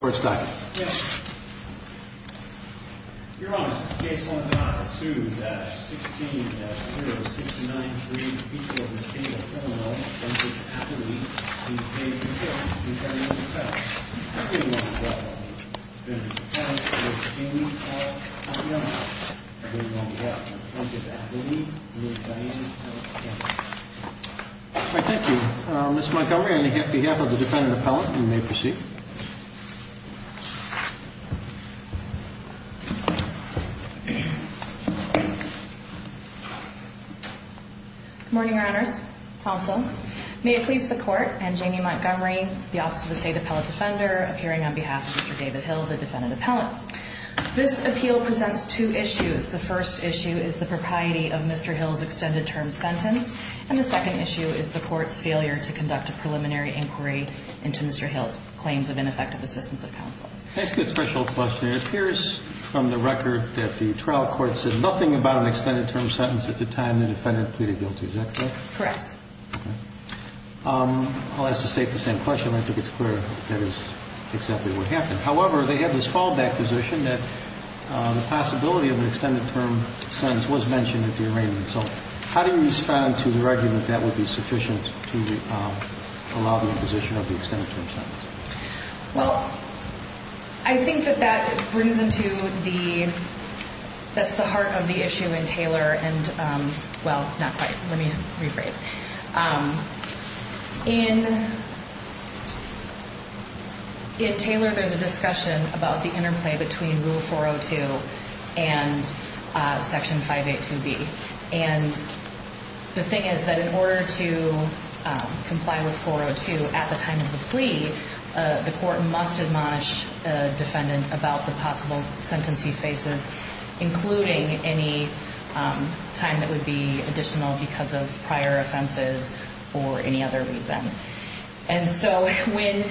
court staff. Your Honor, this is case 1-2-16-0693. We have a defendant appellant. Thank you. Ms. Montgomery, on behalf of the defendant appellant, you may proceed. Good morning, Your Honors. Counsel, may it please the Court and Jamie Montgomery, the Office of the State Appellate Defender, appearing on behalf of Mr. David Hill, the defendant appellant. This appeal presents two issues. The first issue is the propriety of Mr. Hill's extended term sentence, and the second issue is the Court's failure to conduct a preliminary inquiry into Mr. Hill's claims of ineffective assistance of counsel. And the third issue is the Court's failure to conduct a preliminary inquiry into Mr. Hill's claims of ineffective assistance of counsel. Well, I think that that brings into the, that's the heart of the issue in Taylor and, well, not quite. Let me rephrase. In Taylor, there's a discussion about the interplay between Rule 402 and Section 582B. And the thing is that in order to comply with 402 at the time of the plea, the Court must admonish the defendant about the possible sentencing phases, including any time that would be additional because of prior offenses. Or any other reason. And so when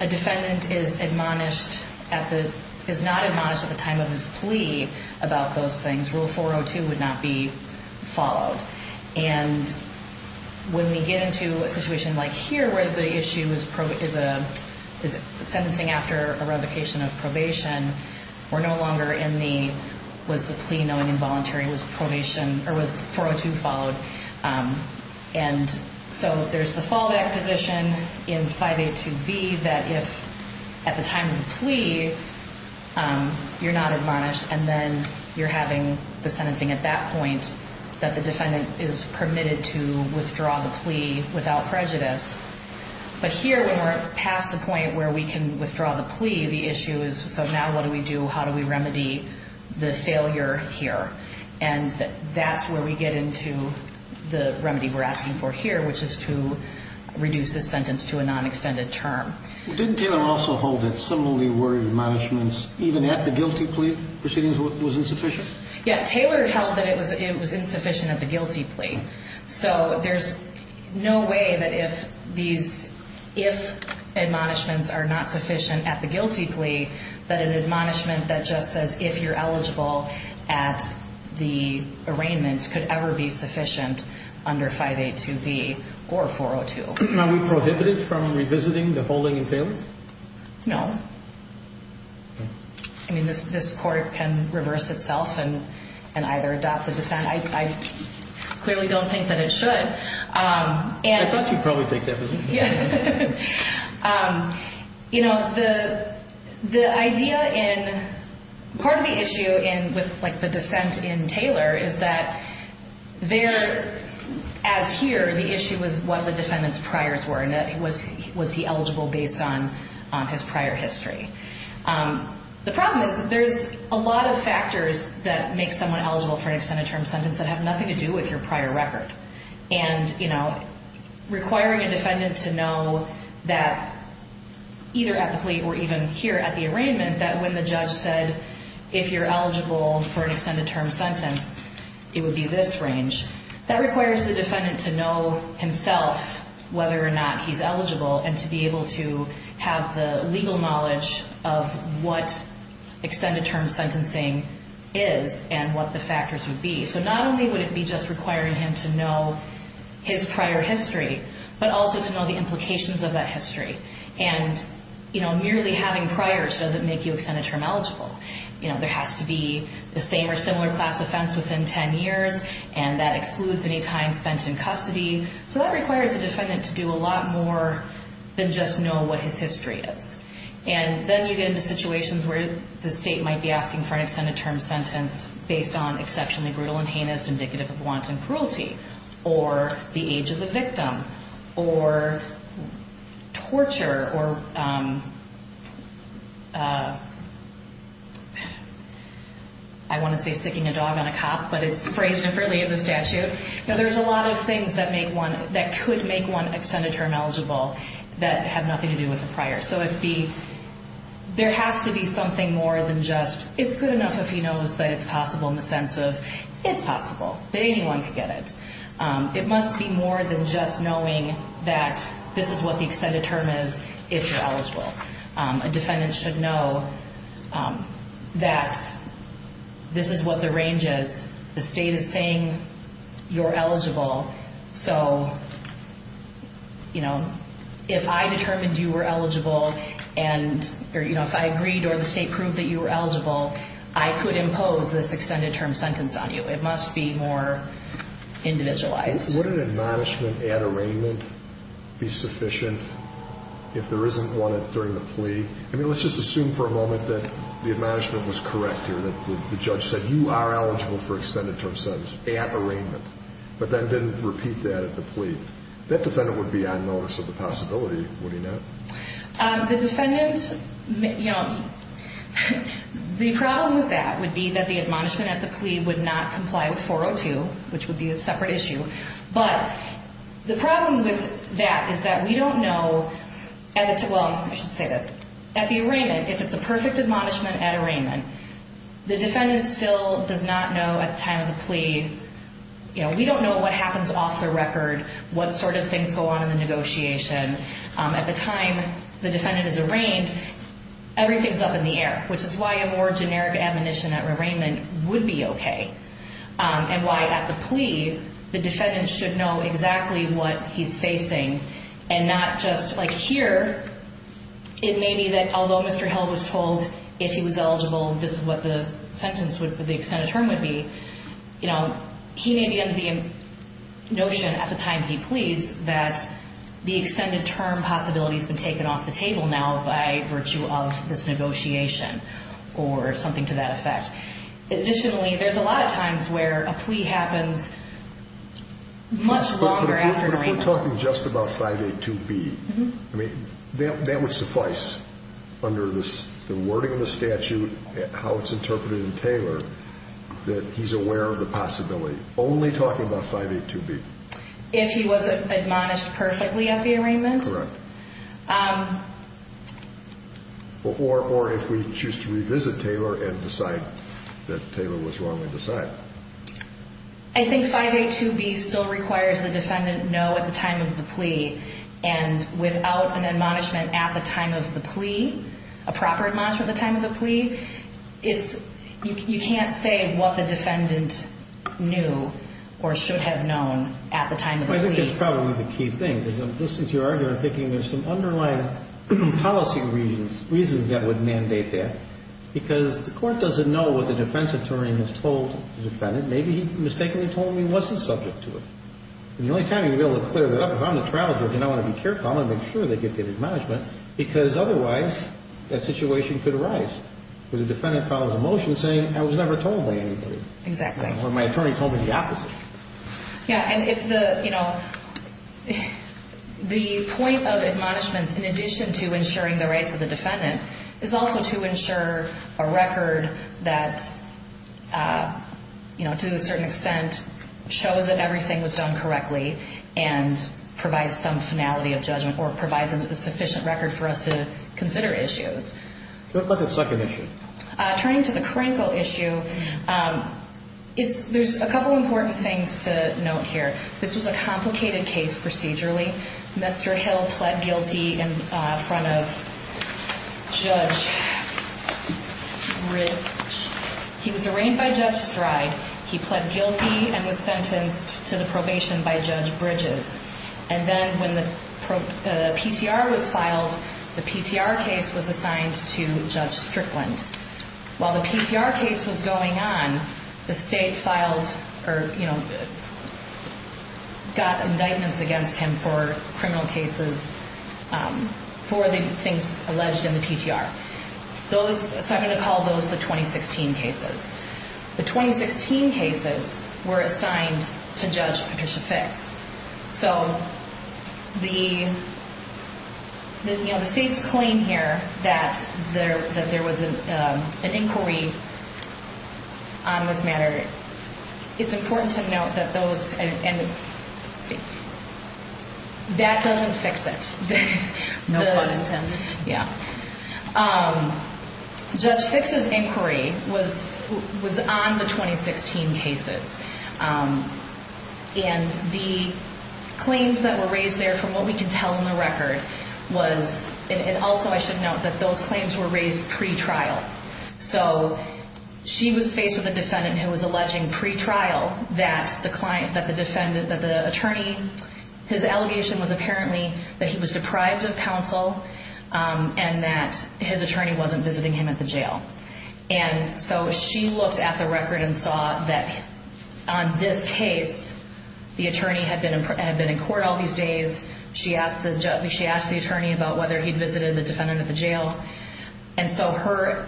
a defendant is admonished at the, is not admonished at the time of his plea about those things, Rule 402 would not be followed. And when we get into a situation like here where the issue is sentencing after a revocation of probation, we're no longer in the, was the plea known involuntary, was 402 followed? And so there's the fallback position in 582B that if at the time of the plea you're not admonished and then you're having the sentencing at that point, that the defendant is permitted to withdraw the plea without prejudice. But here when we're past the point where we can withdraw the plea, the issue is, so now what do we do? How do we remedy the failure here? And that's where we get into the remedy we're asking for here, which is to reduce this sentence to a non-extended term. Didn't Taylor also hold that similarly worded admonishments even at the guilty plea proceedings was insufficient? Yeah, Taylor held that it was insufficient at the guilty plea. So there's no way that if these, if admonishments are not sufficient at the guilty plea, that an admonishment that just says if you're eligible at the arraignment could ever be sufficient under 582B or 402. Are we prohibited from revisiting the holding in Taylor? No. I mean, this court can reverse itself and either adopt the dissent. I clearly don't think that it should. I thought you'd probably take that position. You know, the idea in, part of the issue in with like the dissent in Taylor is that there, as here, the issue was what the defendant's priors were and was he eligible based on his prior history. The problem is that there's a lot of factors that make someone eligible for an extended term sentence that have nothing to do with your prior record. And, you know, requiring a defendant to know that either at the plea or even here at the arraignment that when the judge said, if you're eligible for an extended term sentence, it would be this range. That requires the defendant to know himself whether or not he's eligible and to be able to have the legal knowledge of what extended term sentencing is and what the factors would be. So not only would it be just requiring him to know his prior history, but also to know the implications of that history. And, you know, merely having priors doesn't make you extended term eligible. You know, there has to be the same or similar class offense within 10 years, and that excludes any time spent in custody. So that requires a defendant to do a lot more than just know what his history is. And then you get into situations where the state might be asking for an extended term sentence based on exceptionally brutal and heinous, indicative of wanton cruelty, or the age of the victim, or torture, or I want to say sicking a dog on a cop, but it's phrased differently in the statute. Now, there's a lot of things that could make one extended term eligible that have nothing to do with a prior. So there has to be something more than just it's good enough if he knows that it's possible in the sense of it's possible that anyone could get it. It must be more than just knowing that this is what the extended term is if you're eligible. A defendant should know that this is what the range is. The state is saying you're eligible. So, you know, if I determined you were eligible, and if I agreed or the state proved that you were eligible, I could impose this extended term sentence on you. It must be more individualized. Would an admonishment at arraignment be sufficient if there isn't one during the plea? I mean, let's just assume for a moment that the admonishment was correct here, that the judge said you are eligible for extended term sentence at arraignment, but then didn't repeat that at the plea. That defendant would be on notice of the possibility, would he not? The defendant, you know, the problem with that would be that the admonishment at the plea would not comply with 402, which would be a separate issue. But the problem with that is that we don't know, well, I should say this. At the arraignment, if it's a perfect admonishment at arraignment, the defendant still does not know at the time of the plea, you know, we don't know what happens off the record, what sort of things go on in the negotiation. At the time the defendant is arraigned, everything's up in the air, which is why a more generic admonition at arraignment would be okay. And why at the plea, the defendant should know exactly what he's facing and not just like here, it may be that although Mr. Held was told if he was eligible, this is what the sentence would be, the extended term would be. You know, he may be under the notion at the time he pleads that the extended term possibility has been taken off the table now by virtue of this negotiation or something to that effect. Additionally, there's a lot of times where a plea happens much longer after an arraignment. But if we're talking just about 582B, I mean, that would suffice under the wording of the statute, how it's interpreted in Taylor, that he's aware of the possibility. Only talking about 582B. If he was admonished perfectly at the arraignment? Correct. Or if we choose to revisit Taylor and decide that Taylor was wrongly decided. I think 582B still requires the defendant know at the time of the plea and without an admonishment at the time of the plea, a proper admonishment at the time of the plea, you can't say what the defendant knew or should have known at the time of the plea. I think that's probably the key thing, because I'm listening to your argument and thinking there's some underlying policy reasons that would mandate that. Because the court doesn't know what the defense attorney has told the defendant. Maybe he mistakenly told him he wasn't subject to it. And the only time you'd be able to clear that up, if I'm the trial judge and I want to be careful, I want to make sure they get the admonishment, because otherwise that situation could arise. Where the defendant follows a motion saying, I was never told by anybody. Exactly. Or my attorney told me the opposite. Yeah, and it's the, you know, the point of admonishments in addition to ensuring the rights of the defendant is also to ensure a record that, you know, to a certain extent shows that everything was done correctly and provides some finality of judgment or provides a sufficient record for us to consider issues. Go to the second issue. Turning to the Kranko issue, there's a couple important things to note here. This was a complicated case procedurally. Mr. Hill pled guilty in front of Judge Bridges. He was arraigned by Judge Stride. He pled guilty and was sentenced to the probation by Judge Bridges. And then when the PTR was filed, the PTR case was assigned to Judge Strickland. While the PTR case was going on, the state filed or, you know, got indictments against him for criminal cases for the things alleged in the PTR. So I'm going to call those the 2016 cases. The 2016 cases were assigned to Judge Patricia Fix. So the states claim here that there was an inquiry on this matter. It's important to note that those and that doesn't fix it. No pun intended. Yeah. Judge Fix's inquiry was on the 2016 cases. And the claims that were raised there from what we can tell in the record was, and also I should note that those claims were raised pre-trial. So she was faced with a defendant who was alleging pre-trial that the client, that the defendant, that the attorney, his allegation was apparently that he was deprived of counsel and that his attorney wasn't visiting him at the jail. And so she looked at the record and saw that on this case, the attorney had been in court all these days. She asked the attorney about whether he'd visited the defendant at the jail. And so her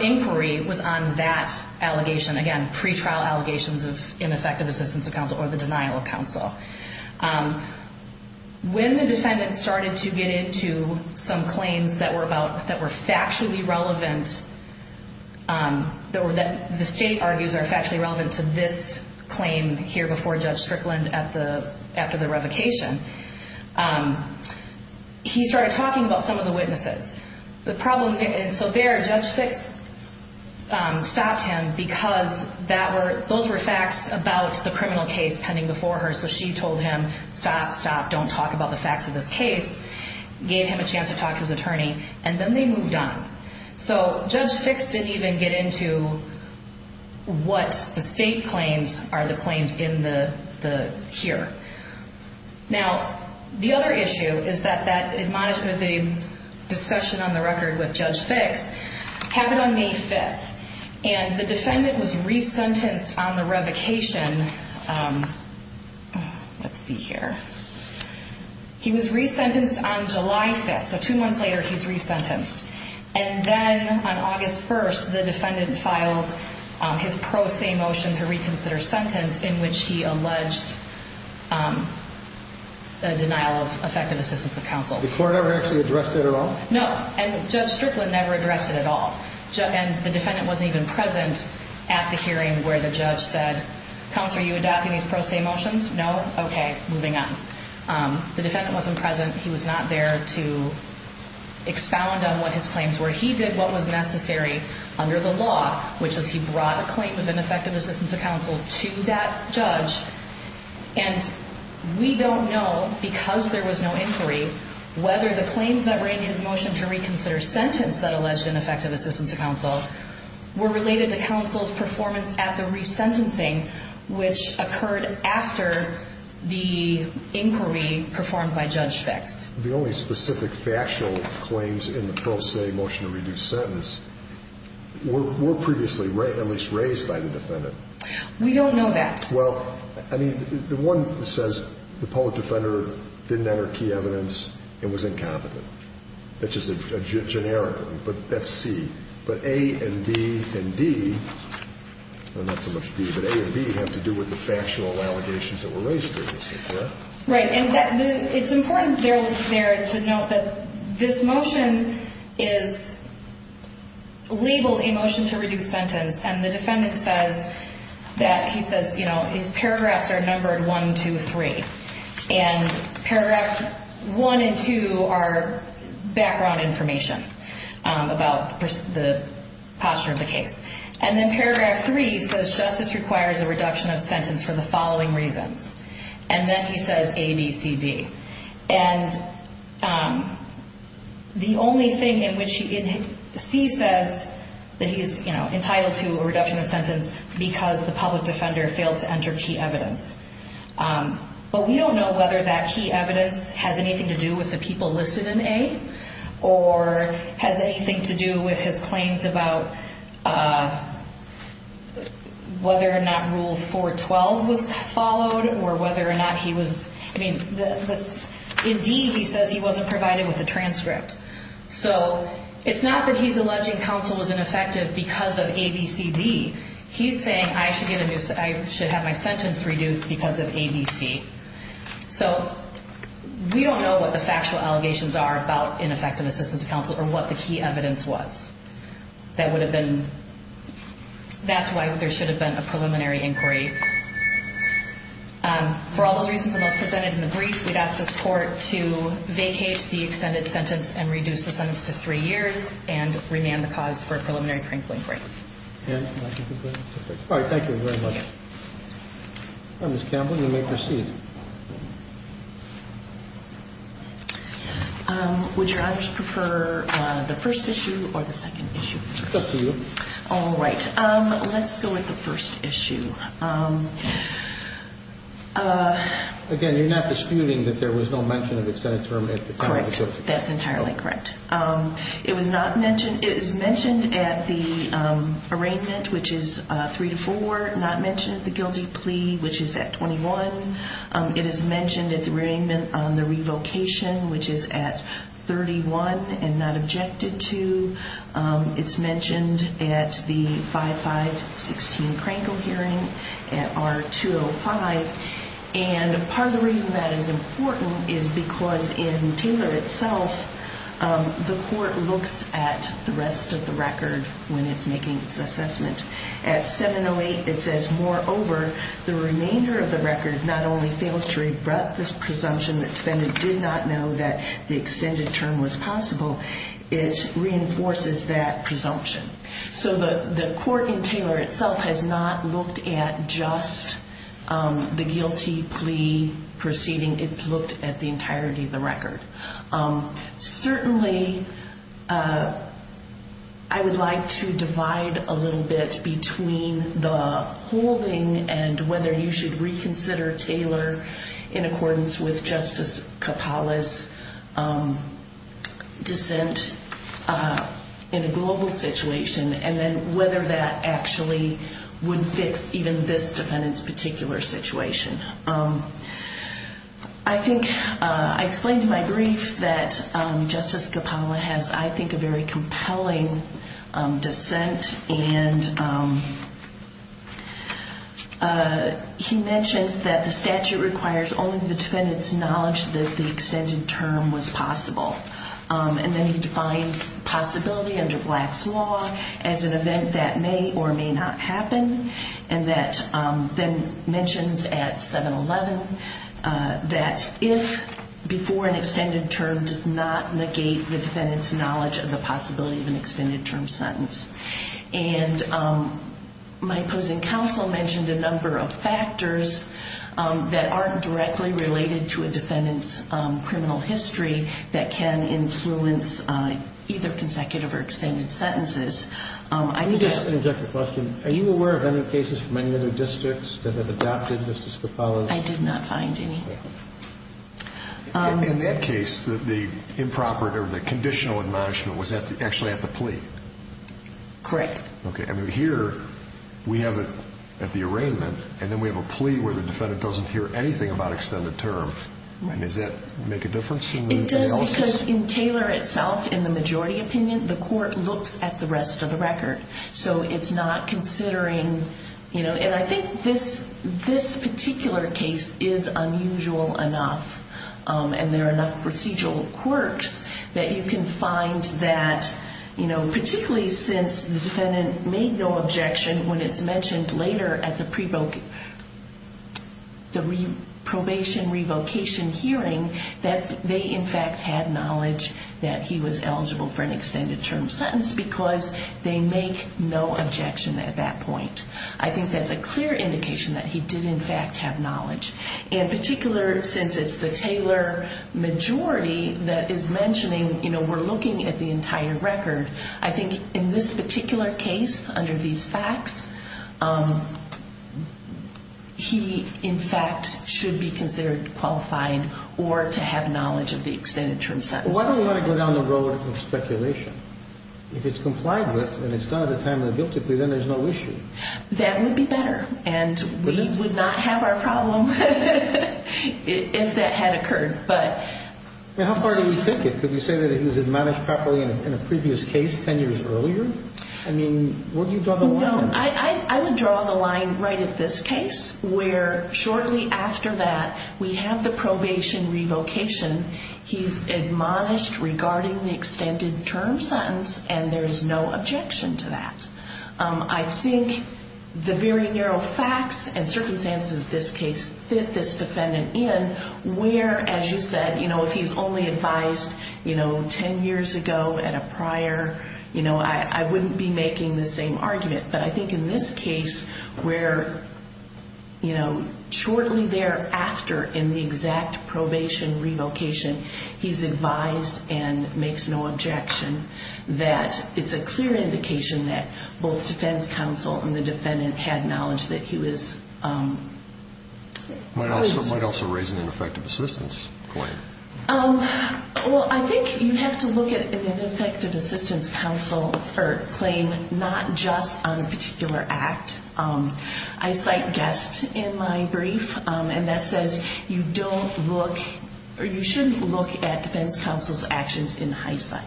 inquiry was on that allegation. Again, pre-trial allegations of ineffective assistance of counsel or the denial of counsel. When the defendant started to get into some claims that were factually relevant, that the state argues are factually relevant to this claim here before Judge Strickland after the revocation, he started talking about some of the witnesses. The problem, and so there Judge Fix stopped him because that were, those were facts about the criminal case pending before her. So she told him, stop, stop, don't talk about the facts of this case, gave him a chance to talk to his attorney, and then they moved on. So Judge Fix didn't even get into what the state claims are the claims in the, here. Now, the other issue is that that admonishment, the discussion on the record with Judge Fix happened on May 5th. And the defendant was resentenced on the revocation. Let's see here. He was resentenced on July 5th. So two months later, he's resentenced. And then on August 1st, the defendant filed his pro se motion to reconsider sentence in which he alleged the denial of effective assistance of counsel. The court ever actually addressed it at all? No, and Judge Strickland never addressed it at all. And the defendant wasn't even present at the hearing where the judge said, counsel, are you adopting these pro se motions? No. Okay, moving on. The defendant wasn't present. He was not there to expound on what his claims were. He did what was necessary under the law, which was he brought a claim of ineffective assistance of counsel to that judge. And we don't know, because there was no inquiry, whether the claims that were in his motion to reconsider sentence that alleged ineffective assistance of counsel were related to counsel's performance at the resentencing, which occurred after the inquiry performed by Judge Fix. The only specific factual claims in the pro se motion to reduce sentence were previously at least raised by the defendant. We don't know that. Well, I mean, the one that says the public defender didn't enter key evidence and was incompetent. That's just a generic one, but that's C. But A and B and D, well, not so much D, but A and B have to do with the factual allegations that were raised previously, correct? Right, and it's important there to note that this motion is labeled a motion to reduce sentence, and the defendant says that he says, you know, his paragraphs are numbered 1, 2, 3. And paragraphs 1 and 2 are background information about the posture of the case. And then paragraph 3 says justice requires a reduction of sentence for the following reasons. And then he says A, B, C, D. And the only thing in which C says that he's entitled to a reduction of sentence because the public defender failed to enter key evidence. But we don't know whether that key evidence has anything to do with the people listed in A or has anything to do with his claims about whether or not Rule 412 was followed or whether or not he was. I mean, in D he says he wasn't provided with a transcript. So it's not that he's alleging counsel was ineffective because of A, B, C, D. He's saying I should have my sentence reduced because of A, B, C. So we don't know what the factual allegations are about ineffective assistance of counsel or what the key evidence was. That's why there should have been a preliminary inquiry. For all those reasons and those presented in the brief, we'd ask this Court to vacate the extended sentence and reduce the sentence to three years and remand the cause for a preliminary inquiry. All right. Thank you very much. All right, Ms. Campbell, you may proceed. Would Your Honors prefer the first issue or the second issue first? Just the two. All right. Let's go with the first issue. Again, you're not disputing that there was no mention of extended term at the time of the guilty plea. Correct. That's entirely correct. It was not mentioned. It is mentioned at the arraignment, which is 3-4, not mentioned at the guilty plea, which is at 21. It is mentioned at the arraignment on the revocation, which is at 31 and not objected to. It's mentioned at the 5-5-16 Krankel hearing at R-205. And part of the reason that is important is because in Taylor itself, the Court looks at the rest of the record when it's making its assessment. At 7-08, it says, moreover, the remainder of the record not only fails to rebut this presumption that defendant did not know that the extended term was possible. It reinforces that presumption. So the Court in Taylor itself has not looked at just the guilty plea proceeding. It's looked at the entirety of the record. Certainly, I would like to divide a little bit between the holding and whether you should reconsider Taylor in accordance with Justice Kapala's dissent in a global situation, and then whether that actually would fix even this defendant's particular situation. I think I explained in my brief that Justice Kapala has, I think, a very compelling dissent. And he mentions that the statute requires only the defendant's knowledge that the extended term was possible. And then he defines possibility under Black's law as an event that may or may not happen. And that then mentions at 7-11 that if before an extended term does not negate the defendant's knowledge of the possibility of an extended term sentence. And my opposing counsel mentioned a number of factors that aren't directly related to a defendant's criminal history that can influence either consecutive or extended sentences. I need to ask an objective question. Are you aware of any cases from any other districts that have adopted Justice Kapala's? I did not find any. In that case, the improper or the conditional admonishment was actually at the plea. Correct. Okay. Here we have it at the arraignment, and then we have a plea where the defendant doesn't hear anything about extended terms. Does that make a difference in the analysis? It does because in Taylor itself, in the majority opinion, the court looks at the rest of the record. So it's not considering, you know, and I think this particular case is unusual enough, and there are enough procedural quirks that you can find that, you know, particularly since the defendant made no objection when it's mentioned later at the probation revocation hearing that they in fact had knowledge that he was eligible for an extended term sentence because they make no objection at that point. I think that's a clear indication that he did in fact have knowledge. In particular, since it's the Taylor majority that is mentioning, you know, we're looking at the entire record, I think in this particular case under these facts, he in fact should be considered qualified or to have knowledge of the extended term sentence. Well, why don't we let it go down the road of speculation? If it's complied with and it's done at the time of the guilty plea, then there's no issue. That would be better, and we would not have our problem if that had occurred. How far do we take it? Could we say that he was admonished properly in a previous case 10 years earlier? I mean, where do you draw the line? I would draw the line right at this case where shortly after that we have the probation revocation. He's admonished regarding the extended term sentence, and there's no objection to that. I think the very narrow facts and circumstances of this case fit this defendant in where, as you said, you know, if he's only advised, you know, 10 years ago at a prior, you know, I wouldn't be making the same argument. But I think in this case where, you know, shortly thereafter in the exact probation revocation, he's advised and makes no objection, that it's a clear indication that both defense counsel and the defendant had knowledge that he was released. Might also raise an ineffective assistance claim. Well, I think you have to look at an ineffective assistance claim not just on a particular act. I cite Guest in my brief, and that says you don't look or you shouldn't look at defense counsel's actions in hindsight.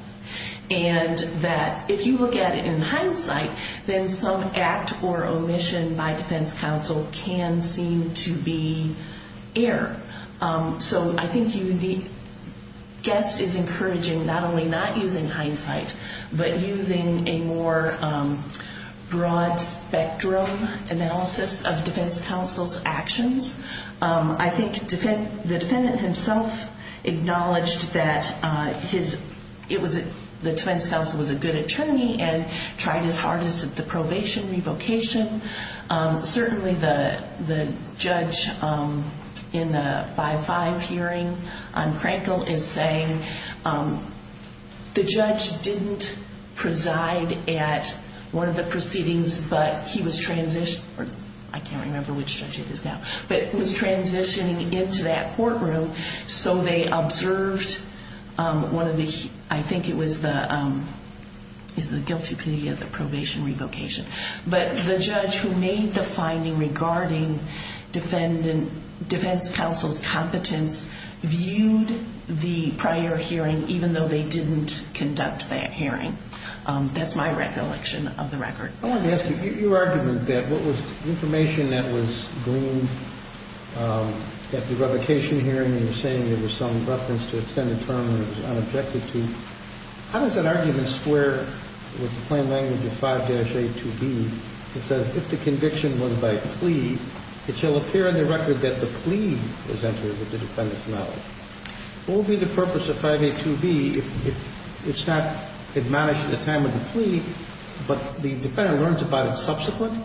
And that if you look at it in hindsight, then some act or omission by defense counsel can seem to be error. So I think Guest is encouraging not only not using hindsight, but using a more broad spectrum analysis of defense counsel's actions. I think the defendant himself acknowledged that the defense counsel was a good attorney and tried his hardest at the probation revocation. Certainly the judge in the 5-5 hearing on Crankle is saying the judge didn't preside at one of the proceedings, but he was transitioning into that courtroom. So they observed one of the, I think it was the guilty plea of the probation revocation. But the judge who made the finding regarding defense counsel's competence viewed the prior hearing, even though they didn't conduct that hearing. That's my recollection of the record. I wanted to ask you, your argument that what was the information that was gleaned at the revocation hearing and you were saying there was some reference to extended term and it was unobjective to, how does that argument square with the plain language of 5-A2B that says if the conviction was by plea, it shall appear in the record that the plea was entered with the defendant's knowledge? What would be the purpose of 5-A2B if it's not admonished at the time of the plea, but the defendant learns about it subsequently?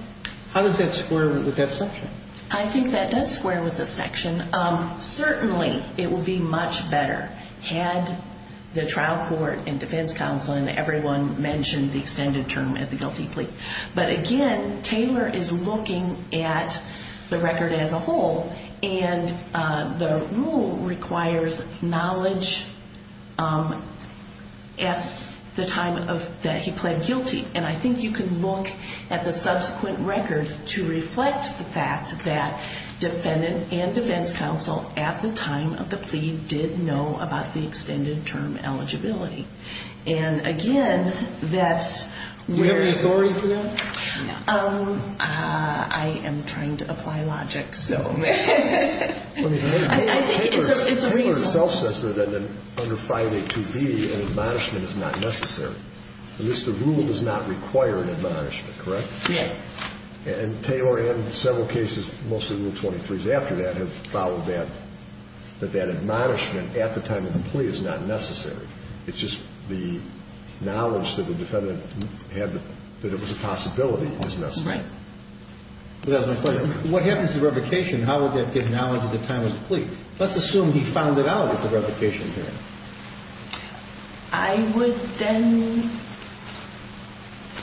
How does that square with that section? I think that does square with the section. Certainly it would be much better had the trial court and defense counsel and everyone mentioned the extended term at the guilty plea. But again, Taylor is looking at the record as a whole, and the rule requires knowledge at the time that he pled guilty. And I think you can look at the subsequent record to reflect the fact that defendant and defense counsel at the time of the plea did know about the extended term eligibility. And again, that's where... Do you have any authority for that? No. I am trying to apply logic, so... I think it's reasonable. Taylor itself says that under 5-A2B, an admonishment is not necessary. At least the rule does not require an admonishment, correct? Yes. And Taylor and several cases, mostly Rule 23s after that, have followed that, that that admonishment at the time of the plea is not necessary. It's just the knowledge that the defendant had that it was a possibility is necessary. Right. That's my question. What happens to revocation? How would that give knowledge at the time of the plea? Let's assume he found it out at the revocation time. I would then...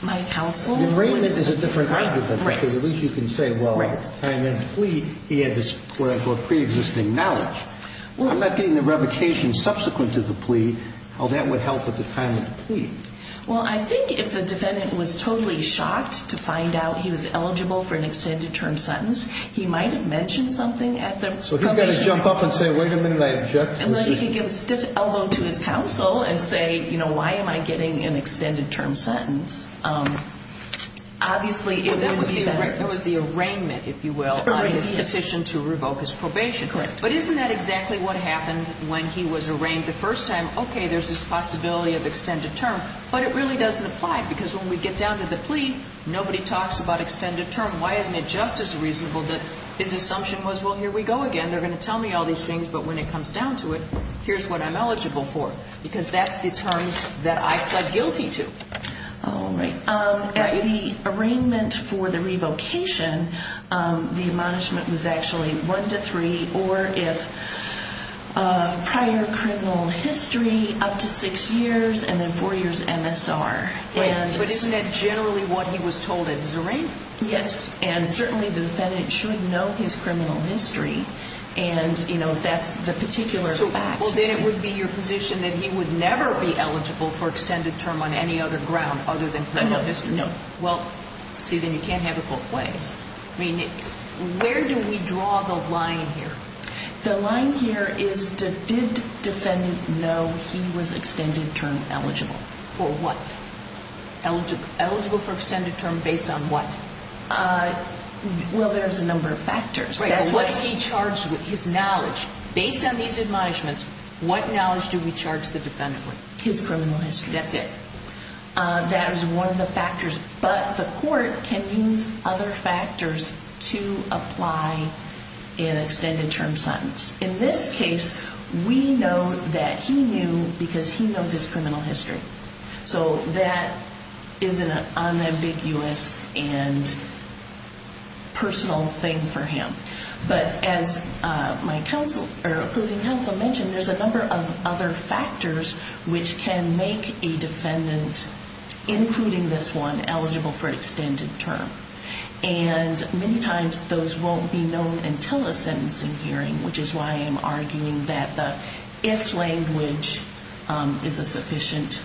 My counsel would... The arraignment is a different argument. Right. Because at least you can say, well, at the time of the plea, he had this what I call preexisting knowledge. I'm not getting the revocation subsequent to the plea. How that would help at the time of the plea. Well, I think if the defendant was totally shocked to find out he was eligible for an extended term sentence, he might have mentioned something at the... So he's got to jump up and say, wait a minute, I object to this. And then he could give a stiff elbow to his counsel and say, you know, why am I getting an extended term sentence? Obviously, if there was the arraignment, if you will, on his petition to revoke his probation. Correct. But isn't that exactly what happened when he was arraigned the first time? Okay, there's this possibility of extended term, but it really doesn't apply because when we get down to the plea, nobody talks about extended term. Why isn't it just as reasonable that his assumption was, well, here we go again. They're going to tell me all these things, but when it comes down to it, here's what I'm eligible for because that's the terms that I pled guilty to. All right. The arraignment for the revocation, the admonishment was actually one to three or if prior criminal history up to six years and then four years MSR. But isn't that generally what he was told at his arraignment? Yes. And certainly the defendant should know his criminal history and, you know, that's the particular fact. Well, then it would be your position that he would never be eligible for extended term on any other ground other than criminal history. No. Well, see, then you can't have it both ways. I mean, where do we draw the line here? The line here is did defendant know he was extended term eligible? For what? Eligible for extended term based on what? Well, there's a number of factors. What's he charged with? His knowledge. Based on these admonishments, what knowledge do we charge the defendant with? His criminal history. That's it. That is one of the factors. But the court can use other factors to apply an extended term sentence. In this case, we know that he knew because he knows his criminal history. So that is an unambiguous and personal thing for him. But as my approving counsel mentioned, there's a number of other factors which can make a defendant, including this one, eligible for extended term. And many times those won't be known until a sentencing hearing, which is why I'm arguing that the if language is a sufficient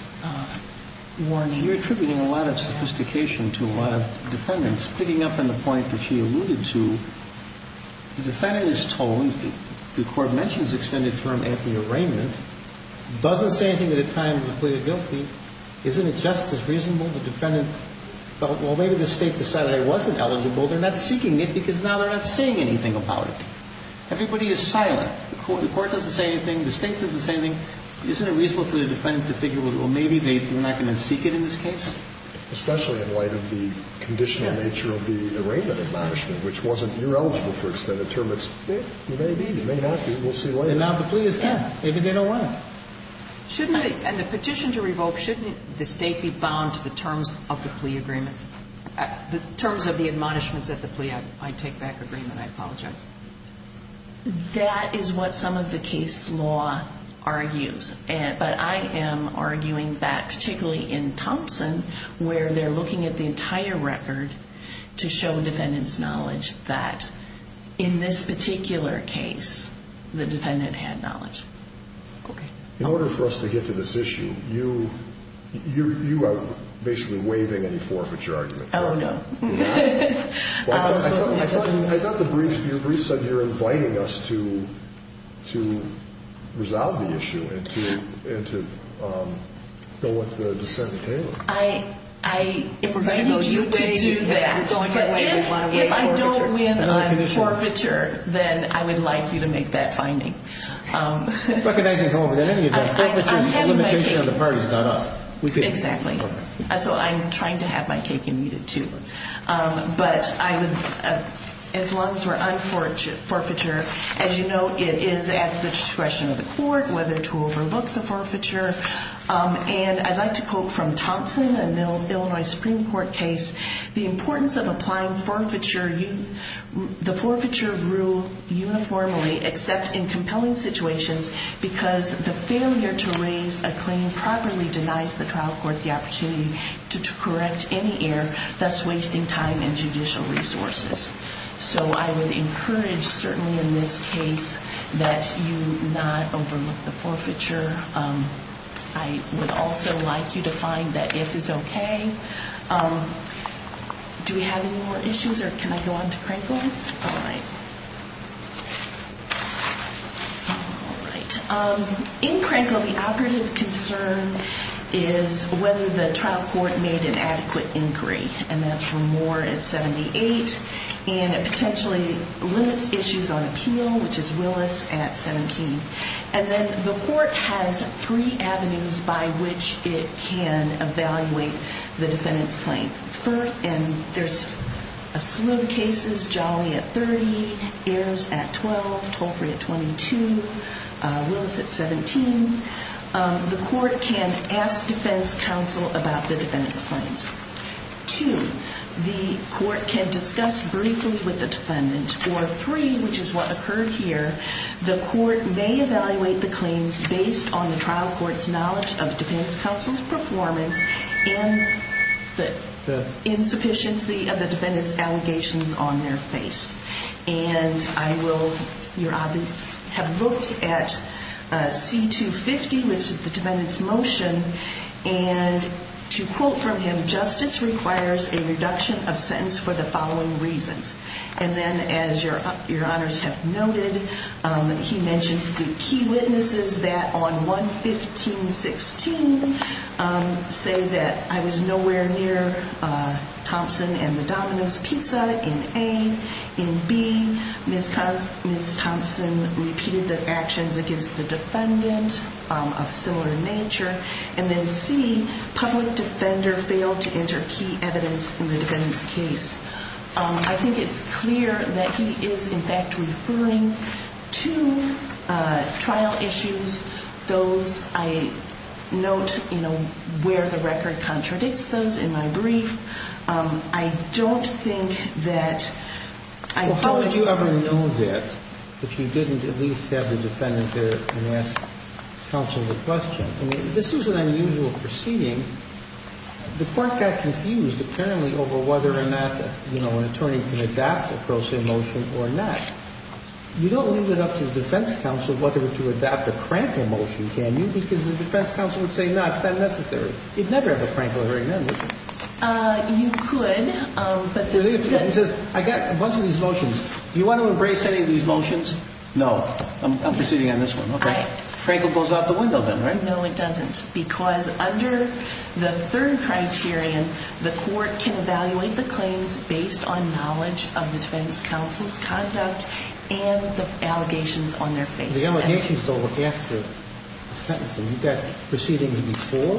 warning. You're attributing a lot of sophistication to a lot of defendants. Picking up on the point that she alluded to, the defendant is told, the court mentions extended term at the arraignment, doesn't say anything at the time of the plea of guilty. Isn't it just as reasonable? The defendant felt, well, maybe the state decided I wasn't eligible. They're not seeking it because now they're not saying anything about it. Everybody is silent. The court doesn't say anything. The state doesn't say anything. Isn't it reasonable for the defendant to figure, well, maybe they're not going to seek it in this case? Especially in light of the conditional nature of the arraignment admonishment, which wasn't, you're eligible for extended term. It's, you may be, you may not be. We'll see later. And now the plea is there. Maybe they don't want it. Shouldn't they, and the petition to revoke, shouldn't the state be bound to the terms of the plea agreement? The terms of the admonishments at the plea, I take back agreement. I apologize. That is what some of the case law argues. But I am arguing back, particularly in Thompson, where they're looking at the entire record to show defendant's knowledge that in this particular case, the defendant had knowledge. Okay. In order for us to get to this issue, you are basically waiving any forfeiture argument. Oh, no. Well, I thought the briefs, your briefs said you're inviting us to resolve the issue and to go with the dissent in Taylor. I need you to do that. If I don't win on forfeiture, then I would like you to make that finding. Recognizing Thompson, in any event, forfeiture is a limitation on the parties, not us. Exactly. So I'm trying to have my cake and eat it, too. But as long as we're on forfeiture, as you know, it is at the discretion of the court whether to overlook the forfeiture. And I'd like to quote from Thompson, an Illinois Supreme Court case. The importance of applying forfeiture, the forfeiture rule uniformly, except in compelling situations because the failure to raise a claim properly denies the trial court the opportunity to correct any error, thus wasting time and judicial resources. So I would encourage, certainly in this case, that you not overlook the forfeiture. I would also like you to find that if is okay. Do we have any more issues, or can I go on to Crankle? All right. In Crankle, the operative concern is whether the trial court made an adequate inquiry. And that's Remore at 78, and it potentially limits issues on appeal, which is Willis at 17. And then the court has three avenues by which it can evaluate the defendant's claim. And there's a slew of cases, Jolly at 30, Ayers at 12, Tolfrey at 22, Willis at 17. The court can ask defense counsel about the defendant's claims. Two, the court can discuss briefly with the defendant. Or three, which is what occurred here, the court may evaluate the claims based on the trial court's knowledge of the defendant's counsel's performance and the insufficiency of the defendant's allegations on their face. And I will have looked at C250, which is the defendant's motion, and to quote from him, justice requires a reduction of sentence for the following reasons. And then as your honors have noted, he mentions the key witnesses that on 115.16 say that, I was nowhere near Thompson and the Dominant's pizza in A. In B, Ms. Thompson repeated the actions against the defendant of similar nature. And then C, public defender failed to enter key evidence in the defendant's case. I think it's clear that he is, in fact, referring to trial issues. Those I note, you know, where the record contradicts those in my brief. I don't think that I know. How would you ever know that if you didn't at least have the defendant there and ask counsel the question? I mean, this is an unusual proceeding. The court got confused, apparently, over whether or not, you know, an attorney can adapt a Pro Se motion or not. You don't leave it up to the defense counsel whether to adapt a Crankle motion, can you? Because the defense counsel would say, no, it's not necessary. You'd never have a Crankle hearing then, would you? You could. He says, I got a bunch of these motions. Do you want to embrace any of these motions? No. I'm proceeding on this one. OK. Crankle goes out the window then, right? No, it doesn't. Because under the third criterion, the court can evaluate the claims based on knowledge of the defense counsel's conduct and the allegations on their face. The allegations, though, look after the sentencing. You've got proceedings before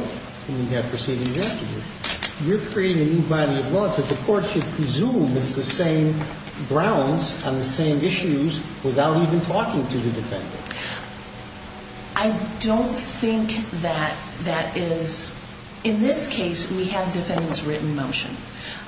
and you've got proceedings after. You're creating a new body of law so the court should presume it's the same grounds on the same issues without even talking to the defendant. I don't think that that is – in this case, we have defendant's written motion.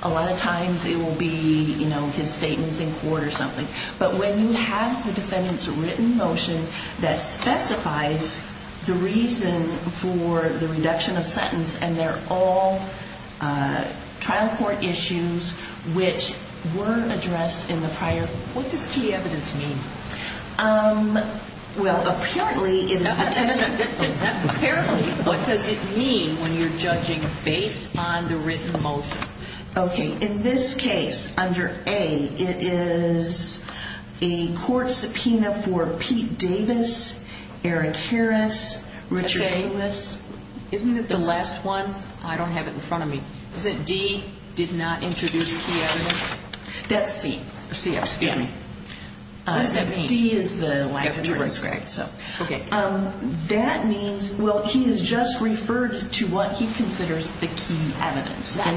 A lot of times it will be, you know, his statements in court or something. But when you have the defendant's written motion that specifies the reason for the reduction of sentence and they're all trial court issues which were addressed in the prior – what does key evidence mean? Well, apparently – Apparently, what does it mean when you're judging based on the written motion? OK. In this case, under A, it is a court subpoena for Pete Davis, Eric Harris, Richard Davis. Isn't it the last one? I don't have it in front of me. Is it D, did not introduce key evidence? That's C. C, excuse me. What does that mean? D is the life insurance, right? OK. That means, well, he has just referred to what he considers the key evidence. How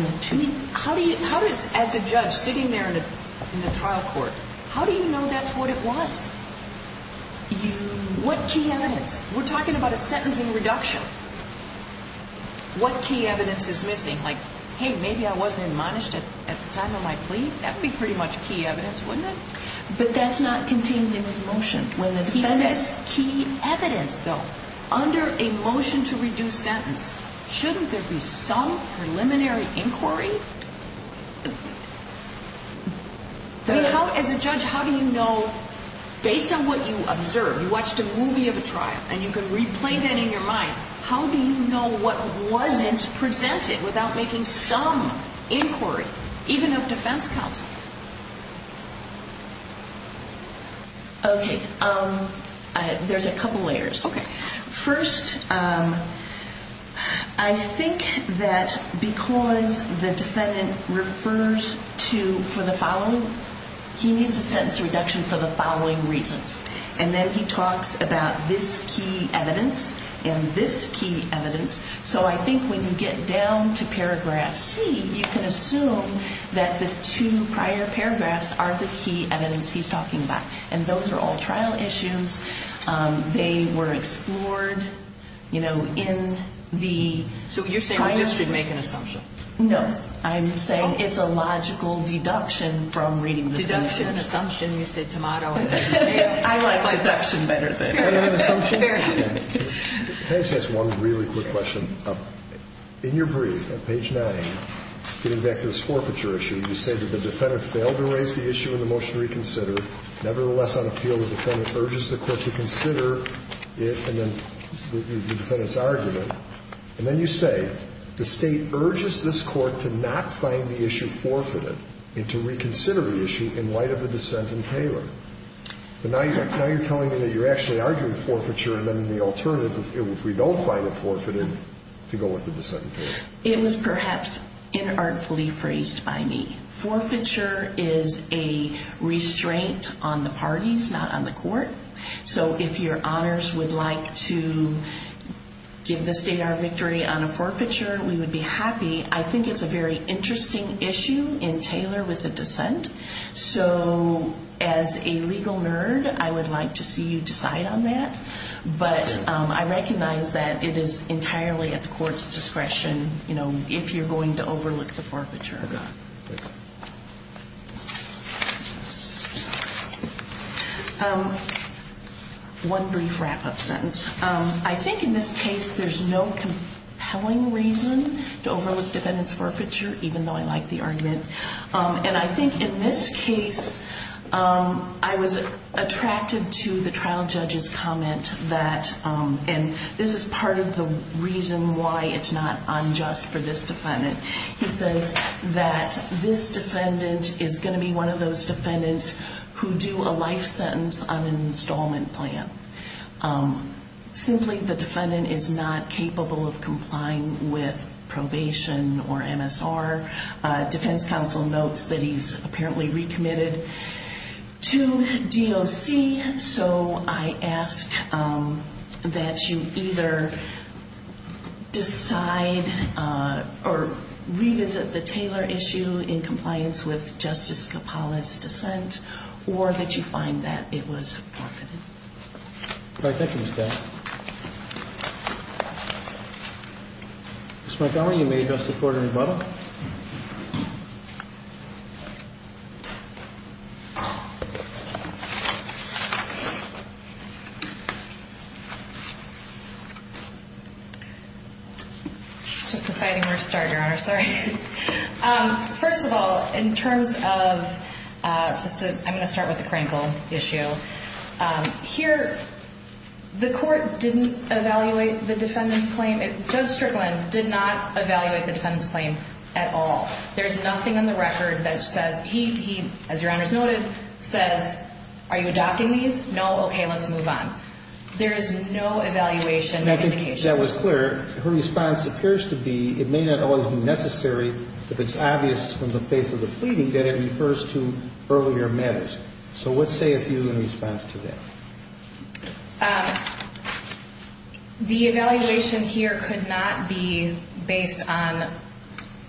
do you – as a judge sitting there in the trial court, how do you know that's what it was? You – What key evidence? We're talking about a sentencing reduction. What key evidence is missing? Like, hey, maybe I wasn't admonished at the time of my plea. That would be pretty much key evidence, wouldn't it? But that's not contained in his motion. When the defendant – He says key evidence, though. Under a motion to reduce sentence, shouldn't there be some preliminary inquiry? I mean, how – as a judge, how do you know, based on what you observed, you watched a movie of a trial and you can replay that in your mind, how do you know what wasn't presented without making some inquiry, even of defense counsel? OK. There's a couple layers. OK. First, I think that because the defendant refers to – for the following – he needs a sentence reduction for the following reasons. And then he talks about this key evidence and this key evidence. So I think when you get down to paragraph C, you can assume that the two prior paragraphs are the key evidence he's talking about. And those are all trial issues. They were explored, you know, in the prior – So you're saying we just should make an assumption? No. I'm saying it's a logical deduction from reading the case. It's an assumption. You said tomato. I like deduction better than assumption. Can I just ask one really quick question? In your brief on page 9, getting back to this forfeiture issue, you say that the defendant failed to raise the issue in the motion to reconsider. Nevertheless, on appeal, the defendant urges the court to consider it and then the defendant's argument. And then you say the State urges this court to not find the issue forfeited and to reconsider the issue in light of the dissent in Taylor. But now you're telling me that you're actually arguing forfeiture and then the alternative, if we don't find it forfeited, to go with the dissent in Taylor. It was perhaps inartfully phrased by me. Forfeiture is a restraint on the parties, not on the court. So if your honors would like to give the State our victory on a forfeiture, we would be happy. I think it's a very interesting issue in Taylor with the dissent. So as a legal nerd, I would like to see you decide on that. But I recognize that it is entirely at the court's discretion, you know, if you're going to overlook the forfeiture. One brief wrap-up sentence. I think in this case there's no compelling reason to overlook defendant's forfeiture, even though I like the argument. And I think in this case I was attracted to the trial judge's comment that, and this is part of the reason why it's not unjust for this defendant, he says that this defendant is going to be one of those defendants who do a life sentence on an installment plan. Simply, the defendant is not capable of complying with probation or MSR. Defense counsel notes that he's apparently recommitted to DOC. So I ask that you either decide or revisit the Taylor issue in compliance with Justice Capala's dissent, or that you find that it was forfeited. All right. Thank you, Ms. Bell. Ms. Montgomery, you may address the court in rebuttal. Just deciding where to start, Your Honor. Sorry. First of all, in terms of just a ‑‑ I'm going to start with the Krankel issue. Here, the court didn't evaluate the defendant's claim. Judge Strickland did not evaluate the defendant's claim at all. There's nothing on the record that says he, as Your Honor has noted, says, are you adopting these? No. Okay. Let's move on. There is no evaluation or indication. That was clear. Her response appears to be it may not always be necessary if it's obvious from the face of the pleading that it refers to earlier matters. So what sayeth you in response to that? The evaluation here could not be based on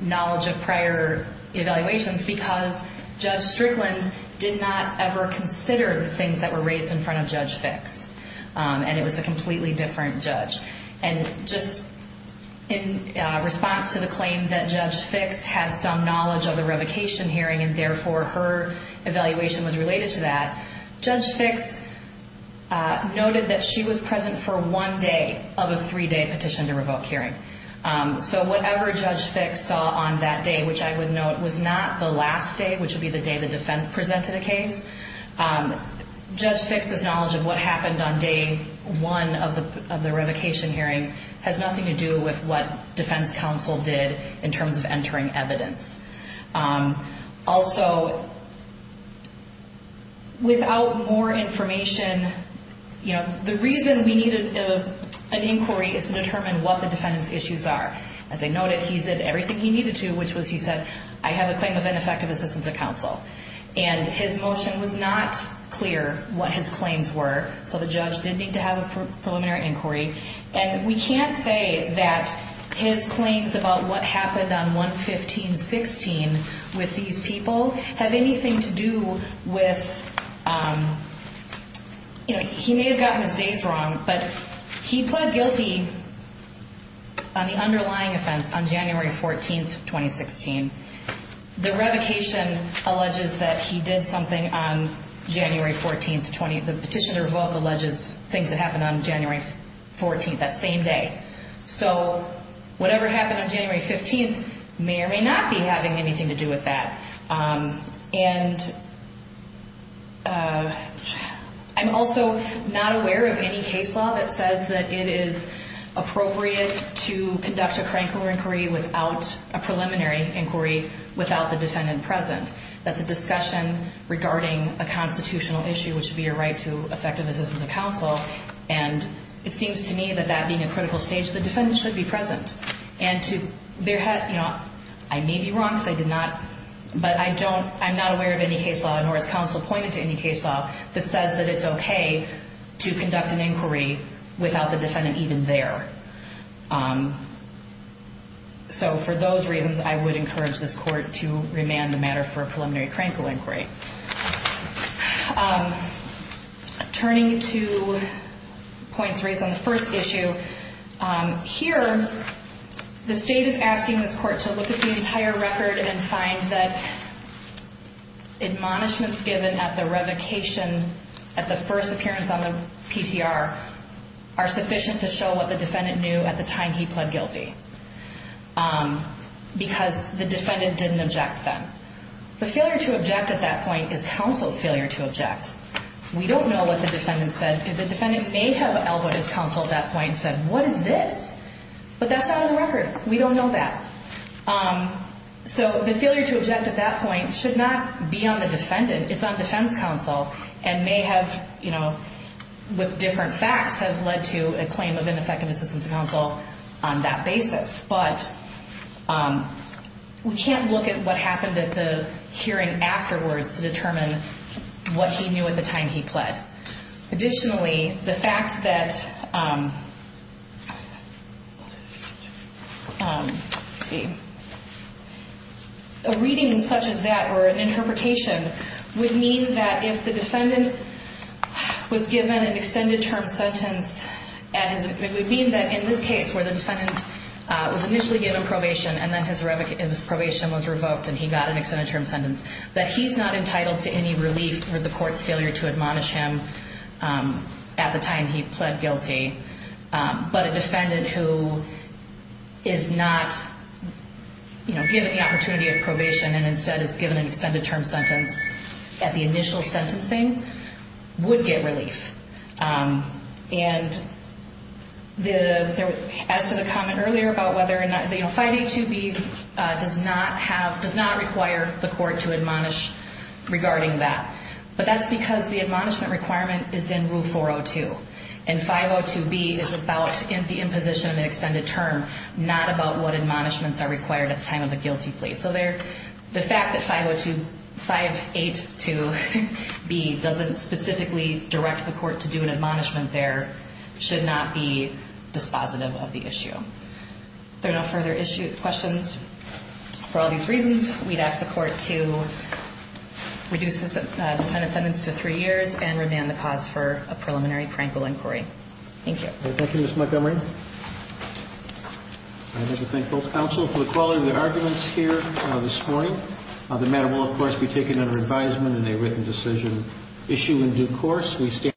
knowledge of prior evaluations because Judge Strickland did not ever consider the things that were raised in front of Judge Fix. And it was a completely different judge. And just in response to the claim that Judge Fix had some knowledge of the revocation hearing and therefore her evaluation was related to that, Judge Fix noted that she was present for one day of a three‑day petition to revoke hearing. So whatever Judge Fix saw on that day, which I would note was not the last day, which would be the day the defense presented a case, Judge Fix's knowledge of what happened on day one of the revocation hearing has nothing to do with what defense counsel did in terms of entering evidence. Also, without more information, you know, the reason we needed an inquiry is to determine what the defendant's issues are. As I noted, he said everything he needed to, which was he said, I have a claim of ineffective assistance of counsel. And his motion was not clear what his claims were. So the judge did need to have a preliminary inquiry. And we can't say that his claims about what happened on 1-15-16 with these people have anything to do with, you know, he may have gotten his days wrong, but he pled guilty on the underlying offense on January 14th, 2016. The revocation alleges that he did something on January 14th. The petition to revoke alleges things that happened on January 14th, that same day. So whatever happened on January 15th may or may not be having anything to do with that. And I'm also not aware of any case law that says that it is appropriate to conduct a crank or inquiry without a preliminary inquiry without the defendant present. That's a discussion regarding a constitutional issue, which would be a right to effective assistance of counsel. And it seems to me that that being a critical stage, the defendant should be present. And to their head, you know, I may be wrong because I did not, but I don't, I'm not aware of any case law, nor has counsel pointed to any case law, that says that it's okay to conduct an inquiry without the defendant even there. So for those reasons, I would encourage this court to remand the matter for a preliminary crank or inquiry. Turning to points raised on the first issue, here the state is asking this court to look at the entire record and find that admonishments given at the revocation, at the first appearance on the PTR, are sufficient to show what the defendant knew at the time he pled guilty. Because the defendant didn't object then. The failure to object at that point is counsel's failure to object. We don't know what the defendant said. The defendant may have elbowed his counsel at that point and said, what is this? But that's not on the record. We don't know that. So the failure to object at that point should not be on the defendant. It's on defense counsel and may have, you know, with different facts, have led to a claim of ineffective assistance of counsel on that basis. But we can't look at what happened at the hearing afterwards to determine what he knew at the time he pled. Additionally, the fact that, let's see, a reading such as that or an interpretation would mean that if the defendant was given an extended term sentence, it would mean that in this case where the defendant was initially given probation and then his probation was revoked and he got an extended term sentence, that he's not entitled to any relief for the court's failure to admonish him at the time he pled guilty. But a defendant who is not, you know, given the opportunity of probation and instead is given an extended term sentence at the initial sentencing would get relief. And as to the comment earlier about whether or not, you know, 582B does not have, does not require the court to admonish regarding that. But that's because the admonishment requirement is in Rule 402. And 502B is about the imposition of an extended term, not about what admonishments are required at the time of a guilty plea. So the fact that 582B doesn't specifically direct the court to do an admonishment there should not be dispositive of the issue. If there are no further questions for all these reasons, we'd ask the court to reduce the defendant's sentence to three years and remand the cause for a preliminary prank or inquiry. Thank you. Thank you, Ms. Montgomery. I'd like to thank both counsel for the quality of their arguments here this morning. The matter will, of course, be taken under advisement in a written decision. Issue in due course.